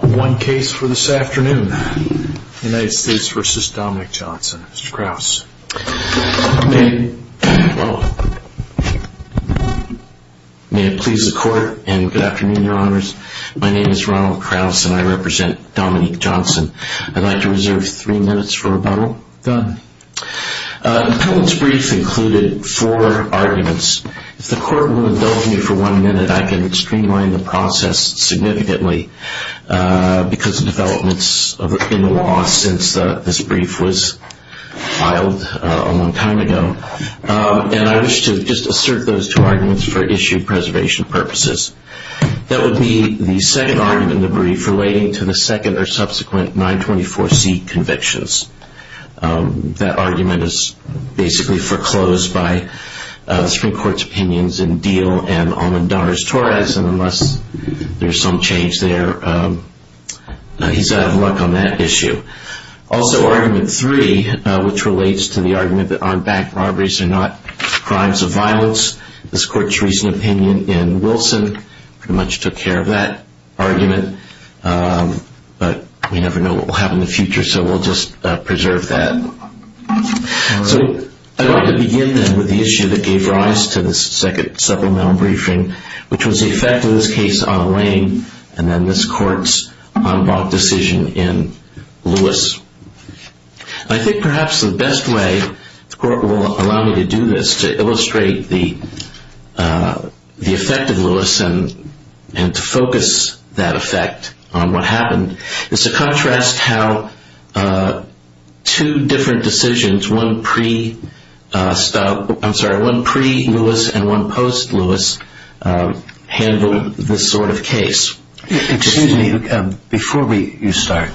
One case for this afternoon. United States v. Dominic Johnson. Mr. Kraus. May it please the court and good afternoon, your honors. My name is Ronald Kraus and I represent Dominic Johnson. I'd like to reserve three minutes for rebuttal. Done. The public's brief included four arguments. If the court will indulge me for one minute, I can streamline the process significantly because of developments in the law since this brief was filed a long time ago. And I wish to just assert those two arguments for issue preservation purposes. That would be the second argument in the brief relating to the second or subsequent 924C convictions. That argument is basically foreclosed by the Supreme Court's opinions in Diehl and Almendarez-Torres and unless there's some change there, he's out of luck on that issue. Also, argument three, which relates to the argument that armed bank robberies are not crimes of violence. This court's recent opinion in Wilson pretty much took care of that argument, but we never know what we'll have in the future, so we'll just preserve that. So I'd like to begin then with the issue that gave rise to this second supplemental briefing, which was the effect of this case on Wayne and then this court's unblocked decision in Lewis. I think perhaps the best way the court will allow me to do this, to illustrate the effect of Lewis and to focus that effect on what happened, is to contrast how two different decisions, one pre-Lewis and one post-Lewis, handled this sort of case. Excuse me, before you start,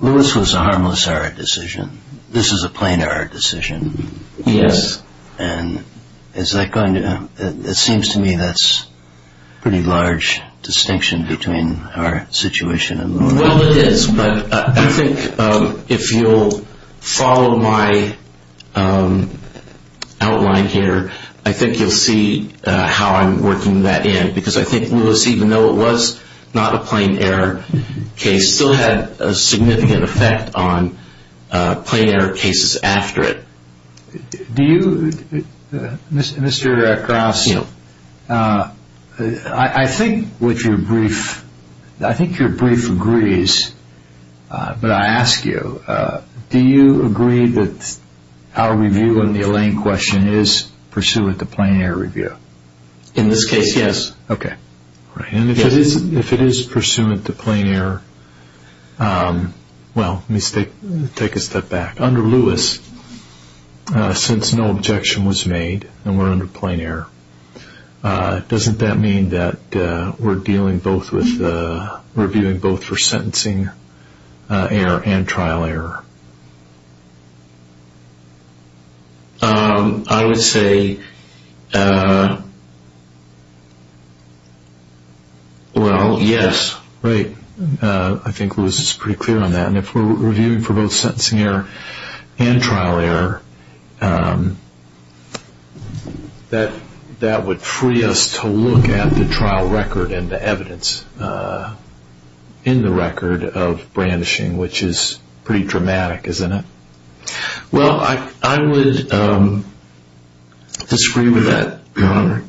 Lewis was a harmless error decision, this is a plain error decision. Yes. And is that going to, it seems to me that's a pretty large distinction between our situation and Lewis. Well it is, but I think if you'll follow my outline here, I think you'll see how I'm working that in, because I think Lewis, even though it was not a plain error case, still had a significant effect on plain error cases after it. Do you, Mr. Cross, I think what your brief, I think your brief agrees, but I ask you, do you agree that our review on the Elaine question is pursuant to plain error review? In this case, yes. And if it is pursuant to plain error, well, let me take a step back, under Lewis, since no objection was made and we're under plain error, doesn't that mean that we're dealing both with, reviewing both for sentencing error and trial error? I would say, well, yes. Right, I think Lewis is pretty clear on that, and if we're reviewing for both sentencing error and trial error, that would free us to look at the trial record and the evidence in the record of brandishing, which is pretty dramatic, isn't it? Well, I would disagree with that, Your Honor.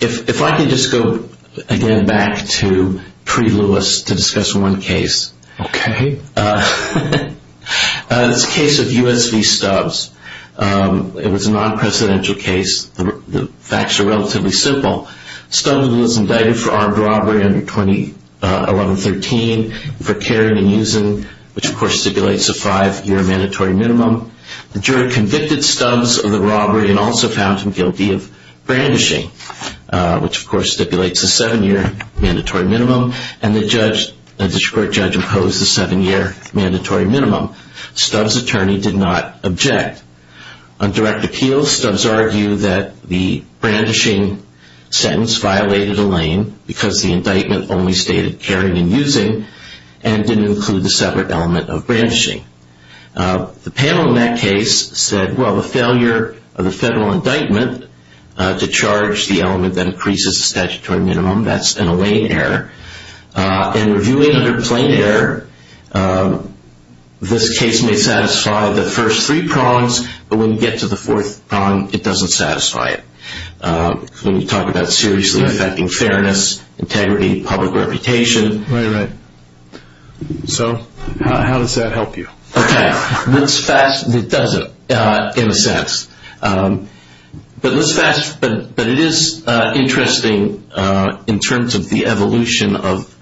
If I could just go again back to pre-Lewis to discuss one case. Okay. This case of U.S. v. Stubbs. It was a non-presidential case. The facts are relatively simple. Stubbs was indicted for armed robbery under 2011-13 for carrying and using, which of course stipulates a five-year mandatory minimum. The jury convicted Stubbs of the robbery and also found him guilty of brandishing, which of course stipulates a seven-year mandatory minimum, and the court judge imposed a seven-year mandatory minimum. Stubbs' attorney did not object. On direct appeal, Stubbs argued that the brandishing sentence violated a lane because the indictment only stated carrying and using and didn't include the separate element of brandishing. The panel in that case said, well, the failure of the federal indictment to charge the element that increases the statutory minimum, that's in a lane error. In reviewing under plain error, this case may satisfy the first three prongs, but when you get to the fourth prong, it doesn't satisfy it. When you talk about seriously affecting fairness, integrity, public reputation. So how does that help you? It doesn't, in a sense. But it is interesting in terms of the evolution of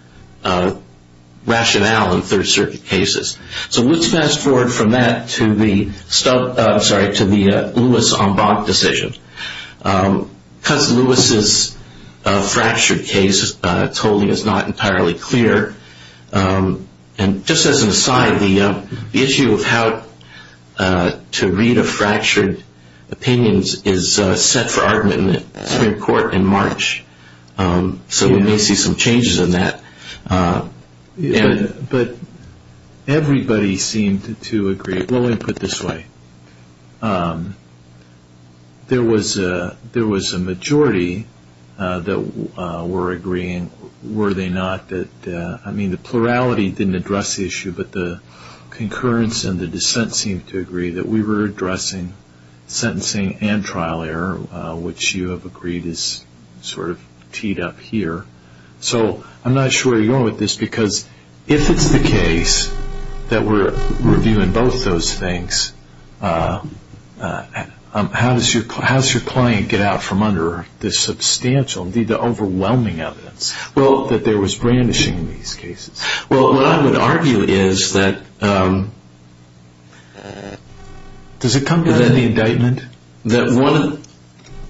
rationale in Third Circuit cases. So let's fast forward from that to the Lewis-Ombach decision. Cus Lewis' fractured case totally is not entirely clear. And just as an aside, the issue of how to read a fractured opinion is set for argument in the Supreme Court in March. So we may see some changes in that. But everybody seemed to agree. Let me put it this way. There was a majority that were agreeing. Were they not? I mean, the plurality didn't address the issue, but the concurrence and the dissent seemed to agree that we were addressing sentencing and trial error, which you have agreed is sort of teed up here. So I'm not sure where you're going with this, because if it's the case that we're reviewing both those things, how does your client get out from under the substantial, the overwhelming evidence that there was brandishing in these cases? Well, what I would argue is that... Does it come down to the indictment?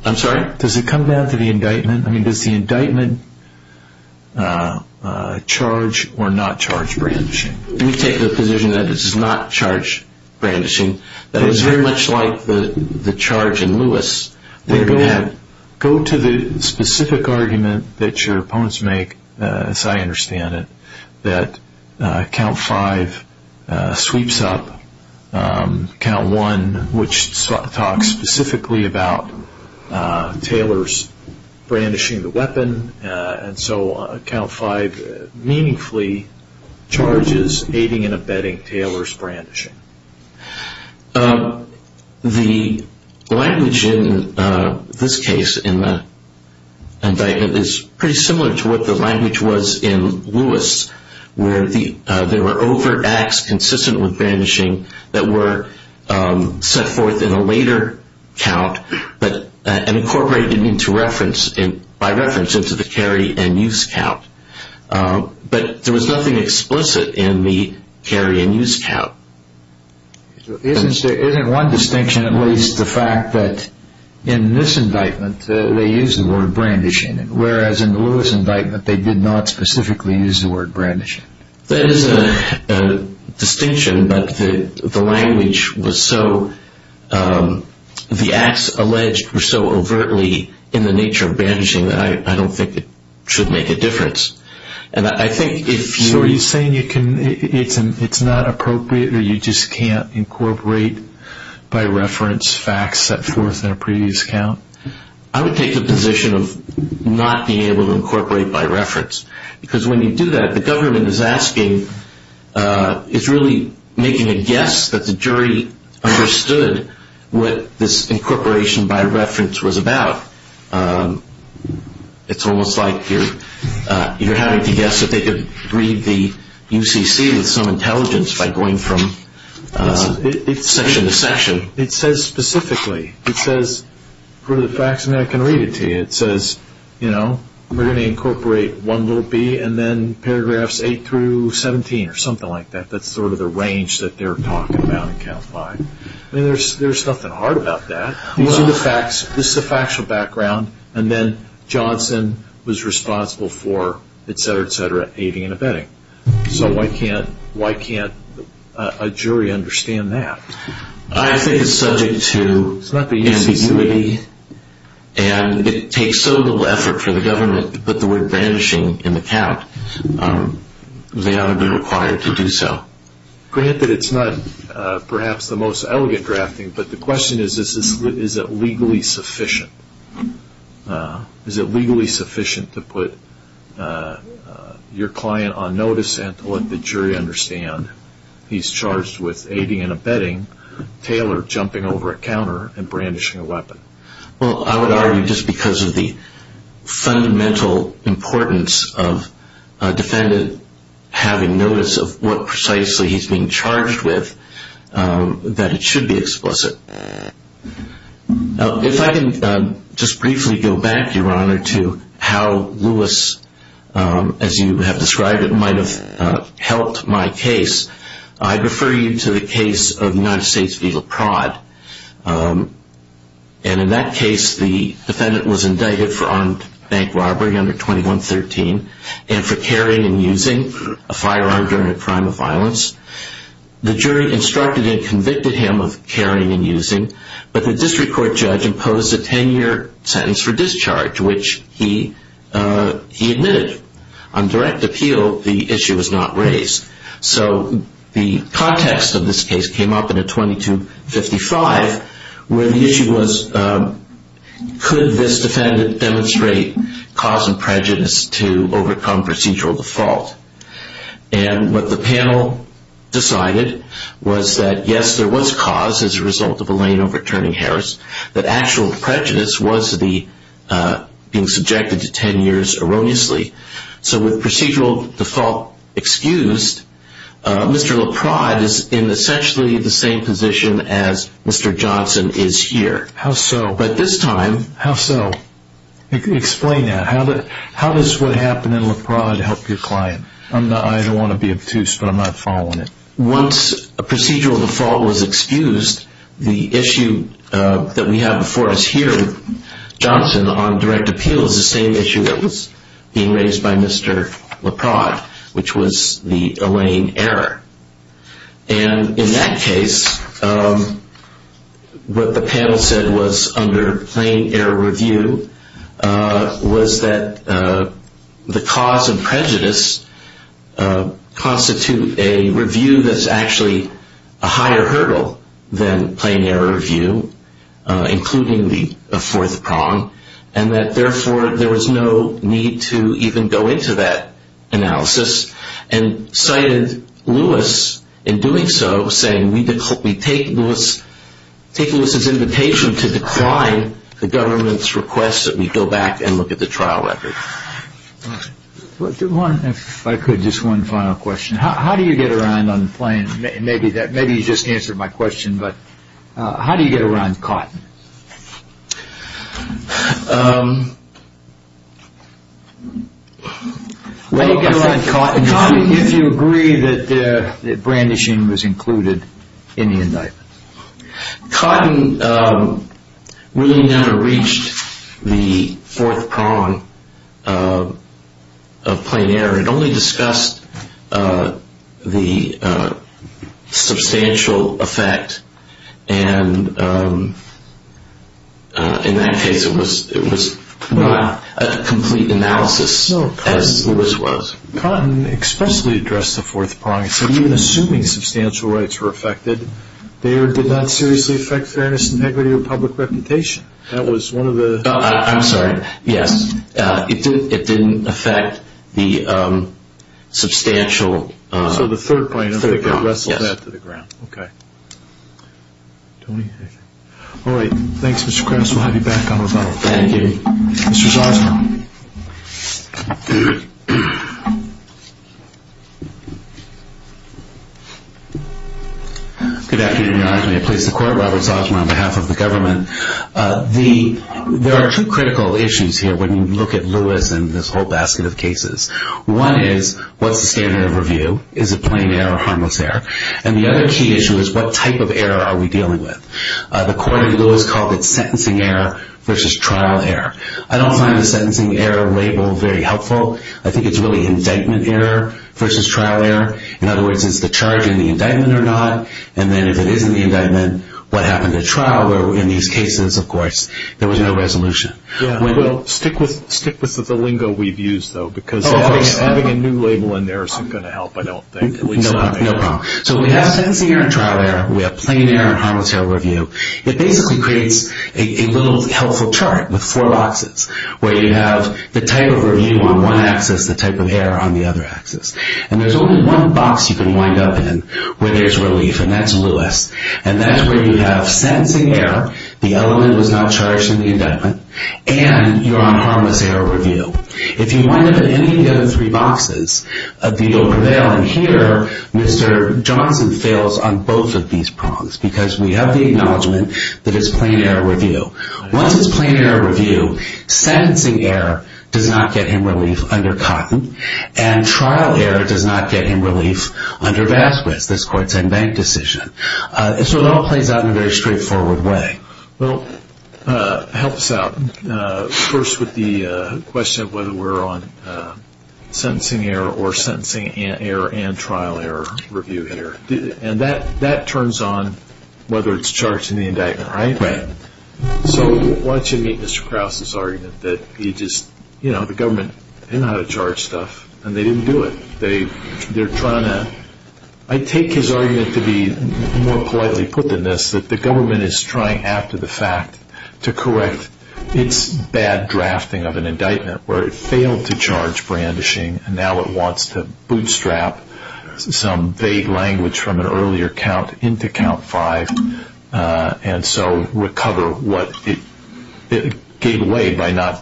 I'm sorry? Does it come down to the indictment? I mean, does the indictment charge or not charge brandishing? Let me take the position that it does not charge brandishing. That it's very much like the charge in Lewis. Go to the specific argument that your opponents make, as I understand it, that count five sweeps up count one, which talks specifically about Taylor's brandishing the weapon. And so count five meaningfully charges aiding and abetting Taylor's brandishing. The language in this case, in the indictment, is pretty similar to what the language was in Lewis, where there were overt acts consistent with brandishing that were set forth in a later count and incorporated by reference into the carry and use count. But there was nothing explicit in the carry and use count. Isn't one distinction at least the fact that in this indictment they used the word brandishing, whereas in the Lewis indictment they did not specifically use the word brandishing? That is a distinction, but the language was so, the acts alleged were so overtly in the nature of brandishing that I don't think it should make a difference. So are you saying it's not appropriate or you just can't incorporate by reference facts set forth in a previous count? I would take the position of not being able to incorporate by reference. Because when you do that, the government is asking, is really making a guess that the jury understood what this incorporation by reference was about. It's almost like you're having to guess that they could read the UCC with some intelligence by going from section to section. It says specifically, it says for the facts and I can read it to you. It says, you know, we're going to incorporate 1b and then paragraphs 8-17 or something like that. That's sort of the range that they're talking about in count 5. There's nothing hard about that. These are the facts. This is a factual background. And then Johnson was responsible for etc., etc., aiding and abetting. So why can't a jury understand that? I think it's subject to ambiguity and it takes so little effort for the government to put the word brandishing in the count. They ought to be required to do so. Granted, it's not perhaps the most elegant drafting, but the question is, is it legally sufficient? Is it legally sufficient to put your client on notice and to let the jury understand he's charged with aiding and abetting? Taylor jumping over a counter and brandishing a weapon. Well, I would argue just because of the fundamental importance of a defendant having notice of what precisely he's being charged with, that it should be explicit. If I can just briefly go back, Your Honor, to how Lewis, as you have described it, might have helped my case, I'd refer you to the case of United States v. La Prade. And in that case, the defendant was indicted for armed bank robbery under 2113 and for carrying and using a firearm during a crime of violence. The jury instructed and convicted him of carrying and using, but the district court judge imposed a 10-year sentence for discharge, which he admitted. On direct appeal, the issue was not raised. So the context of this case came up in a 2255 where the issue was, could this defendant demonstrate cause and prejudice to overcome procedural default? And what the panel decided was that, yes, there was cause as a result of Elaine overturning Harris, but actual prejudice was being subjected to 10 years erroneously. So with procedural default excused, Mr. La Prade is in essentially the same position as Mr. Johnson is here. How so? But this time... How so? Explain that. How does what happened in La Prade help your client? I don't want to be obtuse, but I'm not following it. Once a procedural default was excused, the issue that we have before us here, Johnson, on direct appeal is the same issue that was being raised by Mr. La Prade, which was the Elaine error. And in that case, what the panel said was under plain error review was that the cause and prejudice constitute a review that's actually a higher hurdle than plain error review, including the fourth prong, and that therefore there was no need to even go into that analysis, and cited Lewis in doing so saying, we take Lewis's invitation to decline the government's request that we go back and look at the trial record. If I could, just one final question. How do you get around on the plain? Maybe you just answered my question, but how do you get around cotton? Cotton, if you agree that brandishing was included in the indictment. Cotton really never reached the fourth prong of plain error. It only discussed the substantial effect, and in that case, it was not a complete analysis as Lewis was. Cotton expressly addressed the fourth prong. So even assuming substantial rights were affected, they did not seriously affect fairness, integrity, or public reputation. I'm sorry. Yes. It didn't affect the substantial. So the third point, I think it wrestled that to the ground. Yes. Okay. Tony? All right. Thanks, Mr. Krause. We'll have you back on the phone. Thank you. Mr. Zazman. Good afternoon, Your Honor. May I please support Robert Zazman on behalf of the government? There are two critical issues here when you look at Lewis and this whole basket of cases. One is, what's the standard of review? Is it plain error or harmless error? And the other key issue is, what type of error are we dealing with? The court in Lewis called it sentencing error versus trial error. I don't find the sentencing error label very helpful. I think it's really indictment error versus trial error. In other words, is the charge in the indictment or not? And then if it is in the indictment, what happened at trial? In these cases, of course, there was no resolution. Well, stick with the lingo we've used, though, because having a new label in there isn't going to help, I don't think. No problem. So we have sentencing error and trial error. We have plain error and harmless error review. It basically creates a little helpful chart with four boxes where you have the type of review on one axis, the type of error on the other axis. And there's only one box you can wind up in where there's relief, and that's Lewis. And that's where you have sentencing error, the element was not charged in the indictment, and you're on harmless error review. If you wind up in any of the other three boxes, a deal prevails. And here, Mr. Johnson fails on both of these prongs because we have the acknowledgement that it's plain error review. Once it's plain error review, sentencing error does not get him relief under Cotton. And trial error does not get him relief under Vasquez, this court's in-bank decision. So it all plays out in a very straightforward way. Well, help us out first with the question of whether we're on sentencing error or sentencing error and trial error review here. And that turns on whether it's charged in the indictment, right? Right. So why don't you meet Mr. Krause's argument that he just, you know, the government didn't know how to charge stuff, and they didn't do it. They're trying to, I take his argument to be more politely put than this, that the government is trying after the fact to correct its bad drafting of an indictment where it failed to charge brandishing, and now it wants to bootstrap some vague language from an earlier count into count five, and so recover what it gave away by not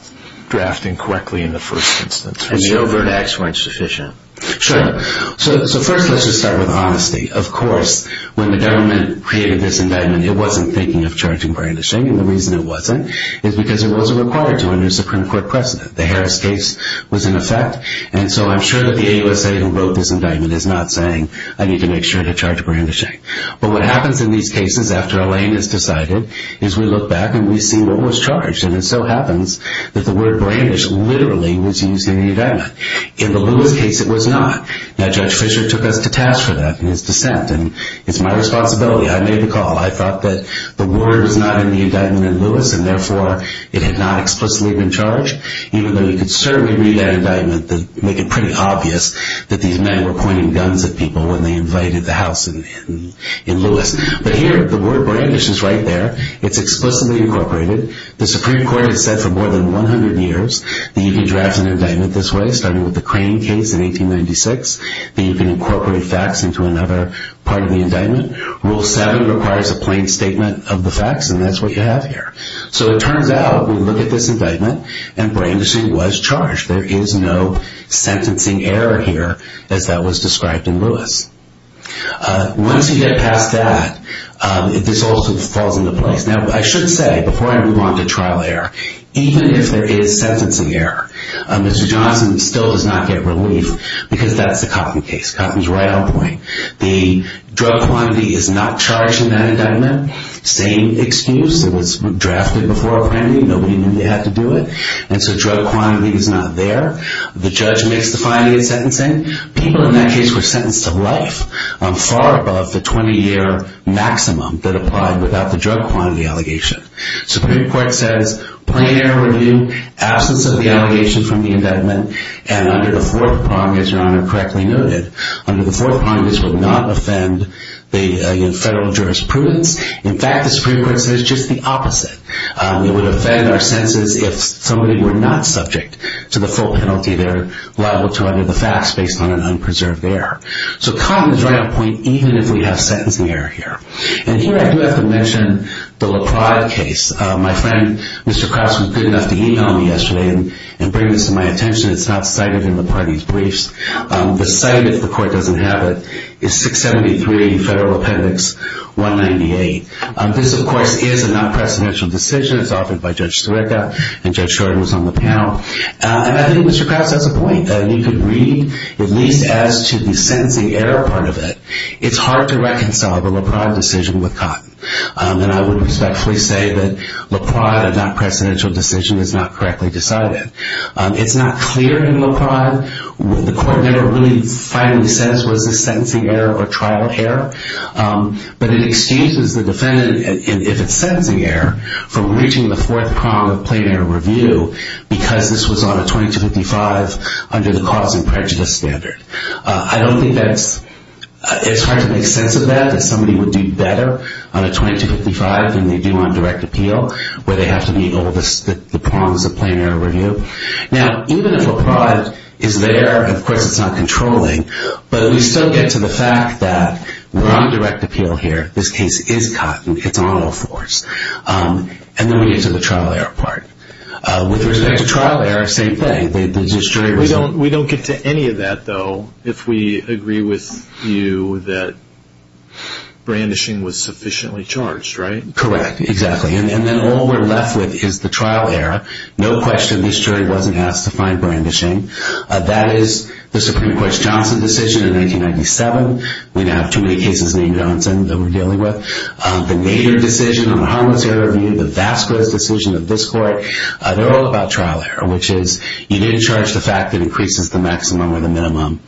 drafting correctly in the first instance. And the overt acts weren't sufficient. Sure. So first let's just start with honesty. Of course, when the government created this indictment, it wasn't thinking of charging brandishing, and the reason it wasn't is because it wasn't required to under a Supreme Court precedent. The Harris case was in effect, and so I'm sure that the AUSA who wrote this indictment is not saying, I need to make sure to charge brandishing. But what happens in these cases after a lane is decided is we look back and we see what was charged, and it so happens that the word brandish literally was used in the indictment. In the Lewis case it was not. Now Judge Fischer took us to task for that in his dissent, and it's my responsibility. I made the call. I thought that the word was not in the indictment in Lewis, and therefore it had not explicitly been charged, even though you could certainly read that indictment to make it pretty obvious that these men were pointing guns at people when they invited the house in Lewis. But here, the word brandish is right there. It's explicitly incorporated. The Supreme Court has said for more than 100 years that you can draft an indictment this way, starting with the Crane case in 1896, that you can incorporate facts into another part of the indictment. Rule 7 requires a plain statement of the facts, and that's what you have here. So it turns out, we look at this indictment, and brandishing was charged. There is no sentencing error here, as that was described in Lewis. Once you get past that, this also falls into place. Now I should say, before I move on to trial error, even if there is sentencing error, Mr. Johnson still does not get relief because that's the Coffin case. Coffin's right on point. The drug quantity is not charged in that indictment. Same excuse. It was drafted before apprending. Nobody knew they had to do it. And so drug quantity is not there. The judge makes the finding of sentencing. People in that case were sentenced to life on far above the 20-year maximum that applied without the drug quantity allegation. Supreme Court says plain error review, absence of the allegation from the indictment, and under the Fourth Promise, Your Honor correctly noted, under the Fourth Promise would not offend the federal jurisprudence. In fact, the Supreme Court says just the opposite. It would offend our senses if somebody were not subject to the full penalty they're liable to under the facts based on an unpreserved error. So Coffin is right on point even if we have sentencing error here. And here I do have to mention the LaPrade case. My friend, Mr. Krause, was good enough to e-mail me yesterday and bring this to my attention. It's not cited in LaPrade's briefs. The site, if the court doesn't have it, is 673 Federal Appendix 198. This, of course, is a non-presidential decision. It's offered by Judge Stureka, and Judge Shorten was on the panel. And I think, Mr. Krause, that's a point that you could read, at least as to the sentencing error part of it. It's hard to reconcile the LaPrade decision with Cotton. And I would respectfully say that LaPrade, a non-presidential decision, is not correctly decided. It's not clear in LaPrade. The court never really finally says was this sentencing error or trial error. But it exchanges the defendant, if it's sentencing error, for reaching the fourth prong of plain error review because this was on a 2255 under the cause and prejudice standard. I don't think that's – it's hard to make sense of that, that somebody would do better on a 2255 than they do on direct appeal, where they have to meet all the prongs of plain error review. Now, even if a prod is there, of course, it's not controlling. But we still get to the fact that we're on direct appeal here. This case is Cotton. It's on all fours. And then we get to the trial error part. With respect to trial error, same thing. There's a jury result. We don't get to any of that, though, if we agree with you that brandishing was sufficiently charged, right? Correct. Exactly. And then all we're left with is the trial error. No question this jury wasn't asked to find brandishing. That is the Supreme Court's Johnson decision in 1997. We don't have too many cases named Johnson that we're dealing with. The Nader decision on the harmless error review, the Vasquez decision of this court, they're all about trial error, which is you didn't charge the fact that it increases the maximum or the minimum.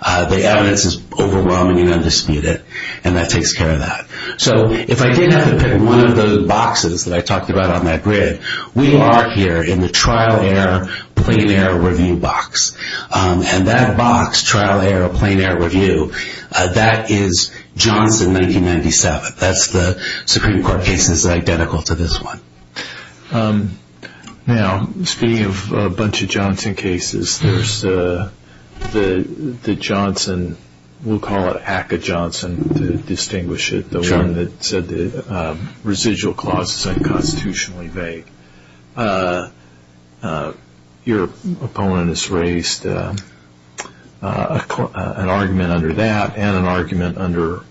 The evidence is overwhelming and undisputed, and that takes care of that. So if I didn't have to pick one of those boxes that I talked about on that grid, we are here in the trial error, plain error review box. And that box, trial error, plain error review, that is Johnson 1997. That's the Supreme Court case that's identical to this one. Now, speaking of a bunch of Johnson cases, there's the Johnson, we'll call it ACA Johnson to distinguish it, the one that said the residual clause is unconstitutionally vague. Your opponent has raised an argument under that and an argument under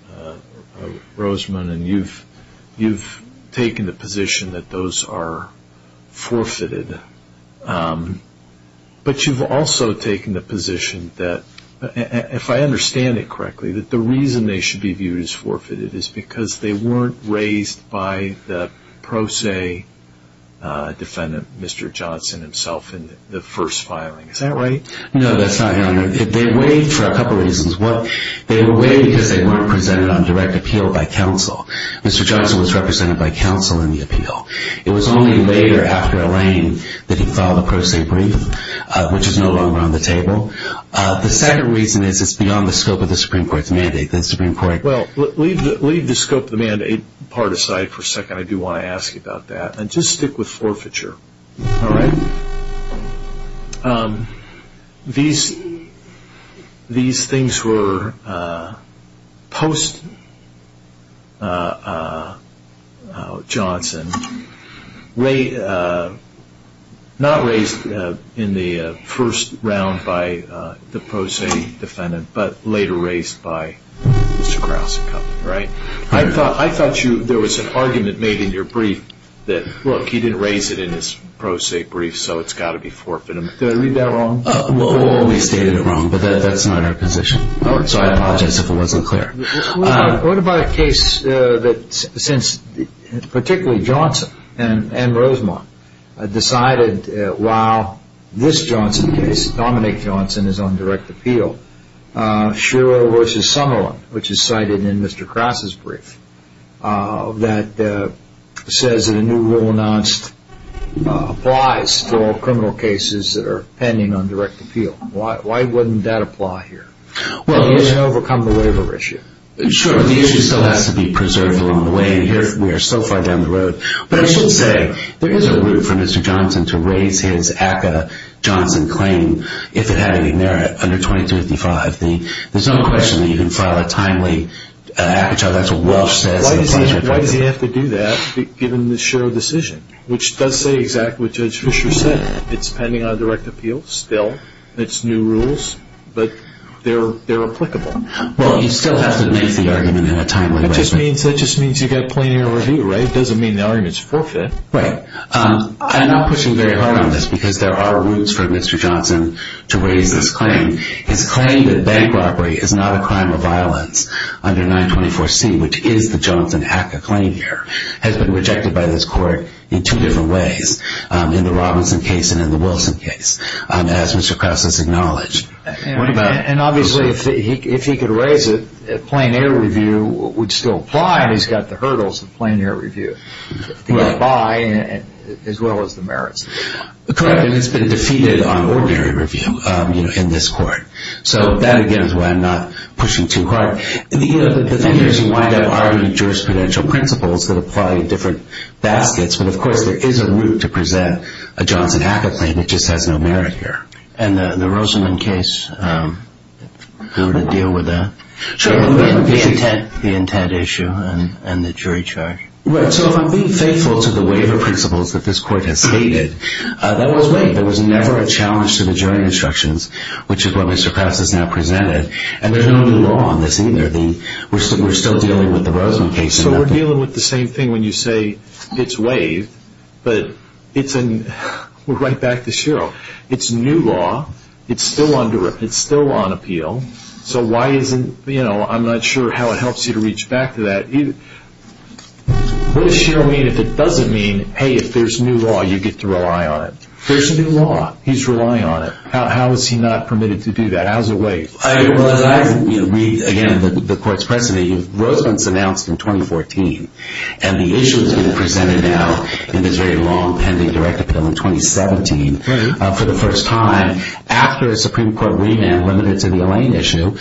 Roseman, and you've taken the position that those are forfeited. But you've also taken the position that, if I understand it correctly, that the reason they should be viewed as forfeited is because they weren't raised by the pro se defendant, Mr. Johnson himself, in the first filing. Is that right? No, that's not it. They were waived for a couple reasons. They were waived because they weren't presented on direct appeal by counsel. Mr. Johnson was represented by counsel in the appeal. It was only later, after Elaine, that he filed a pro se brief, which is no longer on the table. The second reason is it's beyond the scope of the Supreme Court's mandate. Leave the scope of the mandate part aside for a second. I do want to ask you about that. Just stick with forfeiture. All right. These things were post-Johnson, not raised in the first round by the pro se defendant, but later raised by Mr. Krause. I thought there was an argument made in your brief that, look, he didn't raise it in his pro se brief, so it's got to be forfeited. Did I read that wrong? We've always stated it wrong, but that's not our position. So I apologize if it wasn't clear. What about a case that, particularly Johnson and Rosemont, decided while this Johnson case, Dominic Johnson, is on direct appeal, Shiro v. Summerlin, which is cited in Mr. Krause's brief, that says that a new rule announced applies for all criminal cases that are pending on direct appeal. Why wouldn't that apply here? It doesn't overcome the labor issue. Sure, but the issue still has to be preserved along the way. We are so far down the road. But I should say, there is a route for Mr. Johnson to raise his ACA Johnson claim, if it had any merit, under 2255. There's no question that you can file a timely ACA Johnson. That's what Walsh says. Why does he have to do that, given the Shiro decision, which does say exactly what Judge Fischer said. It's pending on direct appeal still. It's new rules, but they're applicable. Well, you still have to make the argument in a timely way. That just means you've got plenty of review, right? It doesn't mean the argument's forfeit. Right. I'm not pushing very hard on this, because there are routes for Mr. Johnson to raise this claim. His claim that bank robbery is not a crime of violence under 924C, which is the Johnson ACA claim here, has been rejected by this court in two different ways, in the Robinson case and in the Wilson case, as Mr. Krause has acknowledged. And obviously, if he could raise it, plain air review would still apply, and he's got the hurdles of plain air review. The buy, as well as the merits. Correct, and it's been defeated on ordinary review in this court. So that, again, is why I'm not pushing too hard. The thing is, you wind up arguing jurisprudential principles that apply to different baskets, but, of course, there is a route to present a Johnson ACA claim. It just has no merit here. And the Rosenman case, how would it deal with that? The intent issue and the jury charge. Right. So if I'm being faithful to the waiver principles that this court has stated, that was waived. There was never a challenge to the jury instructions, which is what Mr. Krause has now presented. And there's no new law on this, either. We're still dealing with the Rosenman case. So we're dealing with the same thing when you say it's waived, but we're right back to Sherrill. It's new law. It's still under review. It's still on appeal. So why isn't, you know, I'm not sure how it helps you to reach back to that. What does Sherrill mean if it doesn't mean, hey, if there's new law, you get to rely on it? There's new law. He's relying on it. How is he not permitted to do that? How is it waived? Well, as I read, again, the court's precedent, Rosenman's announced in 2014, and the issue has been presented now in this very long-pending direct appeal in 2017 for the first time after a Supreme Court remand limited to the Elaine issue.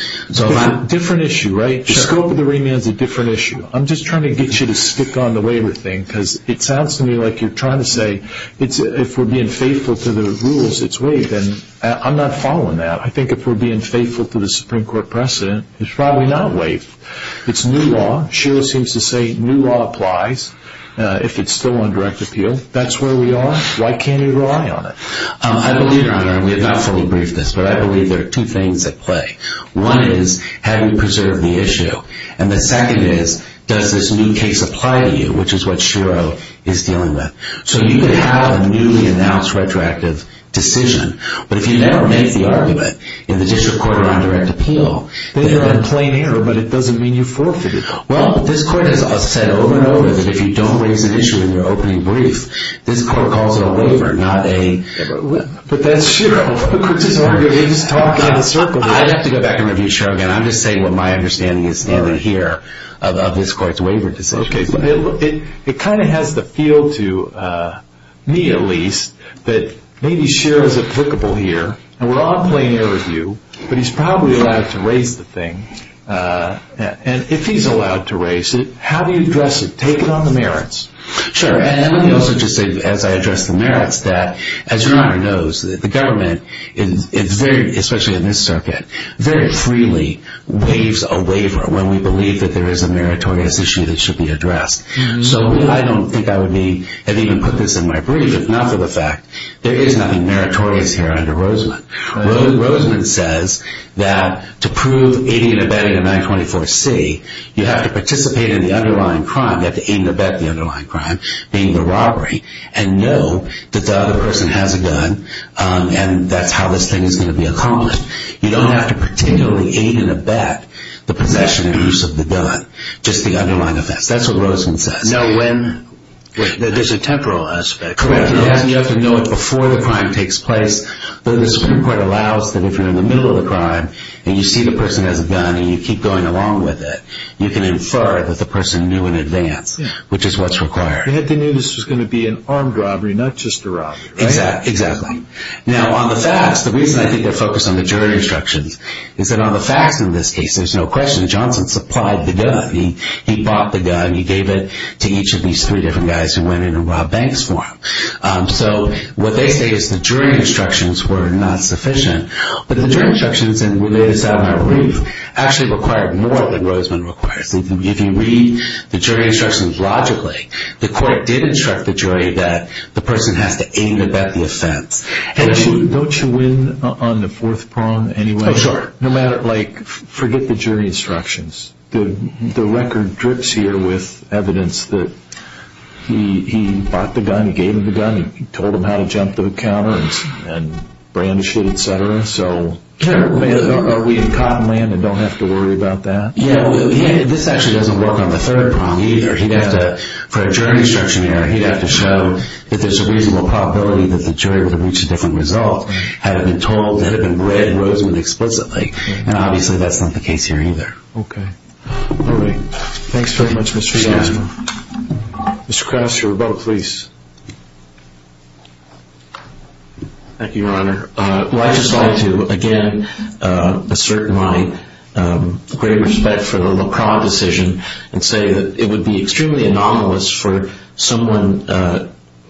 Different issue, right? The scope of the remand is a different issue. I'm just trying to get you to stick on the waiver thing because it sounds to me like you're trying to say if we're being faithful to the rules, it's waived. And I'm not following that. I think if we're being faithful to the Supreme Court precedent, it's probably not waived. It's new law. Sherrill seems to say new law applies if it's still on direct appeal. That's where we are. Why can't he rely on it? I believe, Your Honor, and we have not fully briefed this, but I believe there are two things at play. One is, how do you preserve the issue? And the second is, does this new case apply to you, which is what Sherrill is dealing with? So you could have a newly announced retroactive decision, but if you never make the argument in the district court around direct appeal, then you're in plain error, but it doesn't mean you forfeit it. Well, this court has said over and over that if you don't raise an issue in your opening brief, this court calls it a waiver, not a... But that's Sherrill. He's talking in a circle. I'd have to go back and review Sherrill again. I'm just saying what my understanding is standing here of this court's waiver decision. Okay. It kind of has the feel to me, at least, that maybe Sherrill is applicable here, and we're on plain error with you, but he's probably allowed to raise the thing. And if he's allowed to raise it, how do you address it? Take it on the merits. Sure. And let me also just say, as I address the merits, that, as Your Honor knows, the government is very, especially in this circuit, very freely waives a waiver when we believe that there is a meritorious issue that should be addressed. So I don't think I would have even put this in my brief if not for the fact there is nothing meritorious here under Roseman. Roseman says that to prove aiding and abetting a 924C, you have to participate in the underlying crime. You have to aid and abet the underlying crime, being the robbery, and know that the other person has a gun and that's how this thing is going to be accomplished. You don't have to particularly aid and abet the possession and use of the gun, just the underlying offense. That's what Roseman says. No, when there's a temporal aspect. Correct. You have to know it before the crime takes place. The Supreme Court allows that if you're in the middle of the crime and you see the person has a gun and you keep going along with it, you can infer that the person knew in advance, which is what's required. They knew this was going to be an armed robbery, not just a robbery, right? Exactly. Now, on the facts, the reason I think they're focused on the jury instructions is that on the facts in this case, there's no question Johnson supplied the gun. He bought the gun. He gave it to each of these three different guys who went in and robbed banks for him. So what they say is the jury instructions were not sufficient, but the jury instructions in Related Saddam Harif actually required more than Roseman requires. If you read the jury instructions logically, the court did instruct the jury that the person has to aid and abet the offense. Don't you win on the fourth prong anyway? Oh, sure. No matter, like, forget the jury instructions. The record drips here with evidence that he bought the gun, he gave him the gun, he told him how to jump the counter and brandish it, et cetera. So are we in cotton land and don't have to worry about that? Yeah. This actually doesn't work on the third prong either. He'd have to, for a jury instruction error, he'd have to show that there's a reasonable probability that the jury would have reached a different result had it been told, had it been read Roseman explicitly. Now, obviously, that's not the case here either. Okay. All right. Thanks very much, Mr. Johnson. Mr. Krause, your vote, please. Thank you, Your Honor. Well, I'd just like to, again, assert my great respect for the LaCroix decision and say that it would be extremely anomalous for someone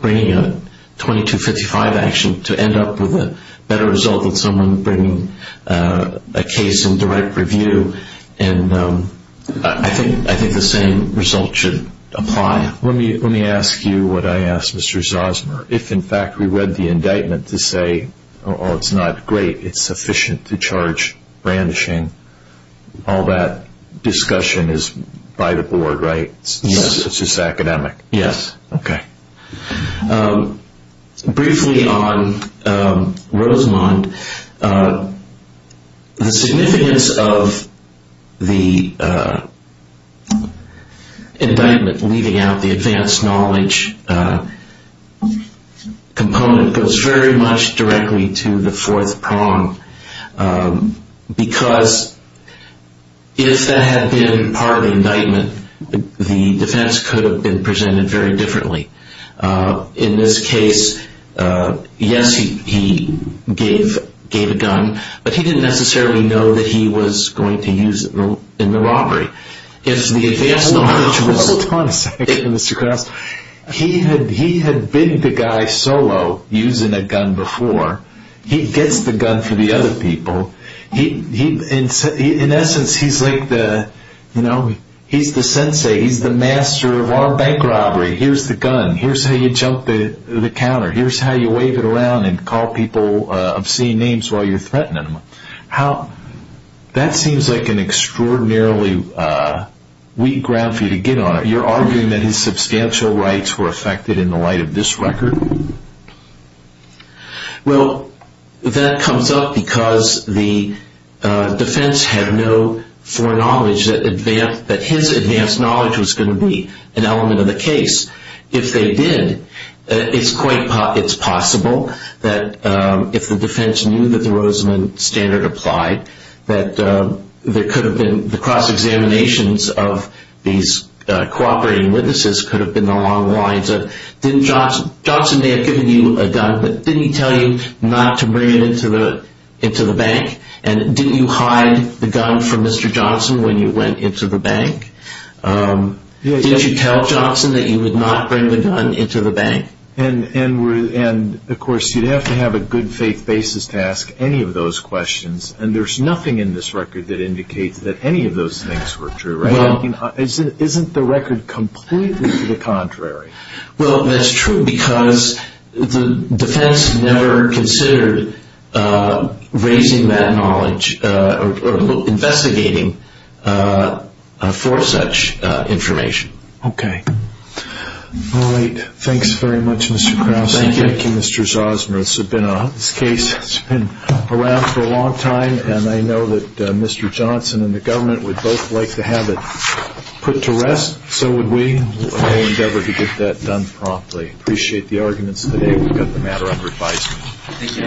bringing a 2255 action to end up with a better result than someone bringing a case in direct review. And I think the same result should apply. Let me ask you what I asked Mr. Zosmer. If, in fact, we read the indictment to say, oh, it's not great, it's sufficient to charge brandishing, all that discussion is by the board, right? Yes. It's just academic. Yes. Okay. Briefly on Rosemond, the significance of the indictment leaving out the advanced knowledge component goes very much directly to the fourth prong because if that had been part of the indictment, the defense could have been presented very differently. In this case, yes, he gave a gun, but he didn't necessarily know that he was going to use it in the robbery. If the advanced knowledge was ---- Hold on a second, Mr. Krause. He had been the guy solo using a gun before. He gets the gun for the other people. In essence, he's the sensei. He's the master of our bank robbery. Here's the gun. Here's how you jump the counter. Here's how you wave it around and call people obscene names while you're threatening them. That seems like an extraordinarily weak ground for you to get on. You're arguing that his substantial rights were affected in the light of this record? Well, that comes up because the defense had no foreknowledge that his advanced knowledge was going to be an element of the case. If they did, it's possible that if the defense knew that the Rosemond standard applied, that there could have been the cross-examinations of these cooperating witnesses and this could have been the long lines. Johnson may have given you a gun, but didn't he tell you not to bring it into the bank? And didn't you hide the gun from Mr. Johnson when you went into the bank? Did you tell Johnson that you would not bring the gun into the bank? And, of course, you'd have to have a good faith basis to ask any of those questions, and there's nothing in this record that indicates that any of those things were true, right? Isn't the record completely to the contrary? Well, that's true because the defense never considered raising that knowledge or investigating for such information. Okay. All right. Thanks very much, Mr. Krause. Thank you, Mr. Zosmer. This case has been around for a long time, and I know that Mr. Johnson and the government would both like to have it put to rest. So would we. We'll endeavor to get that done promptly. Appreciate the arguments today. We've got the matter under advisement.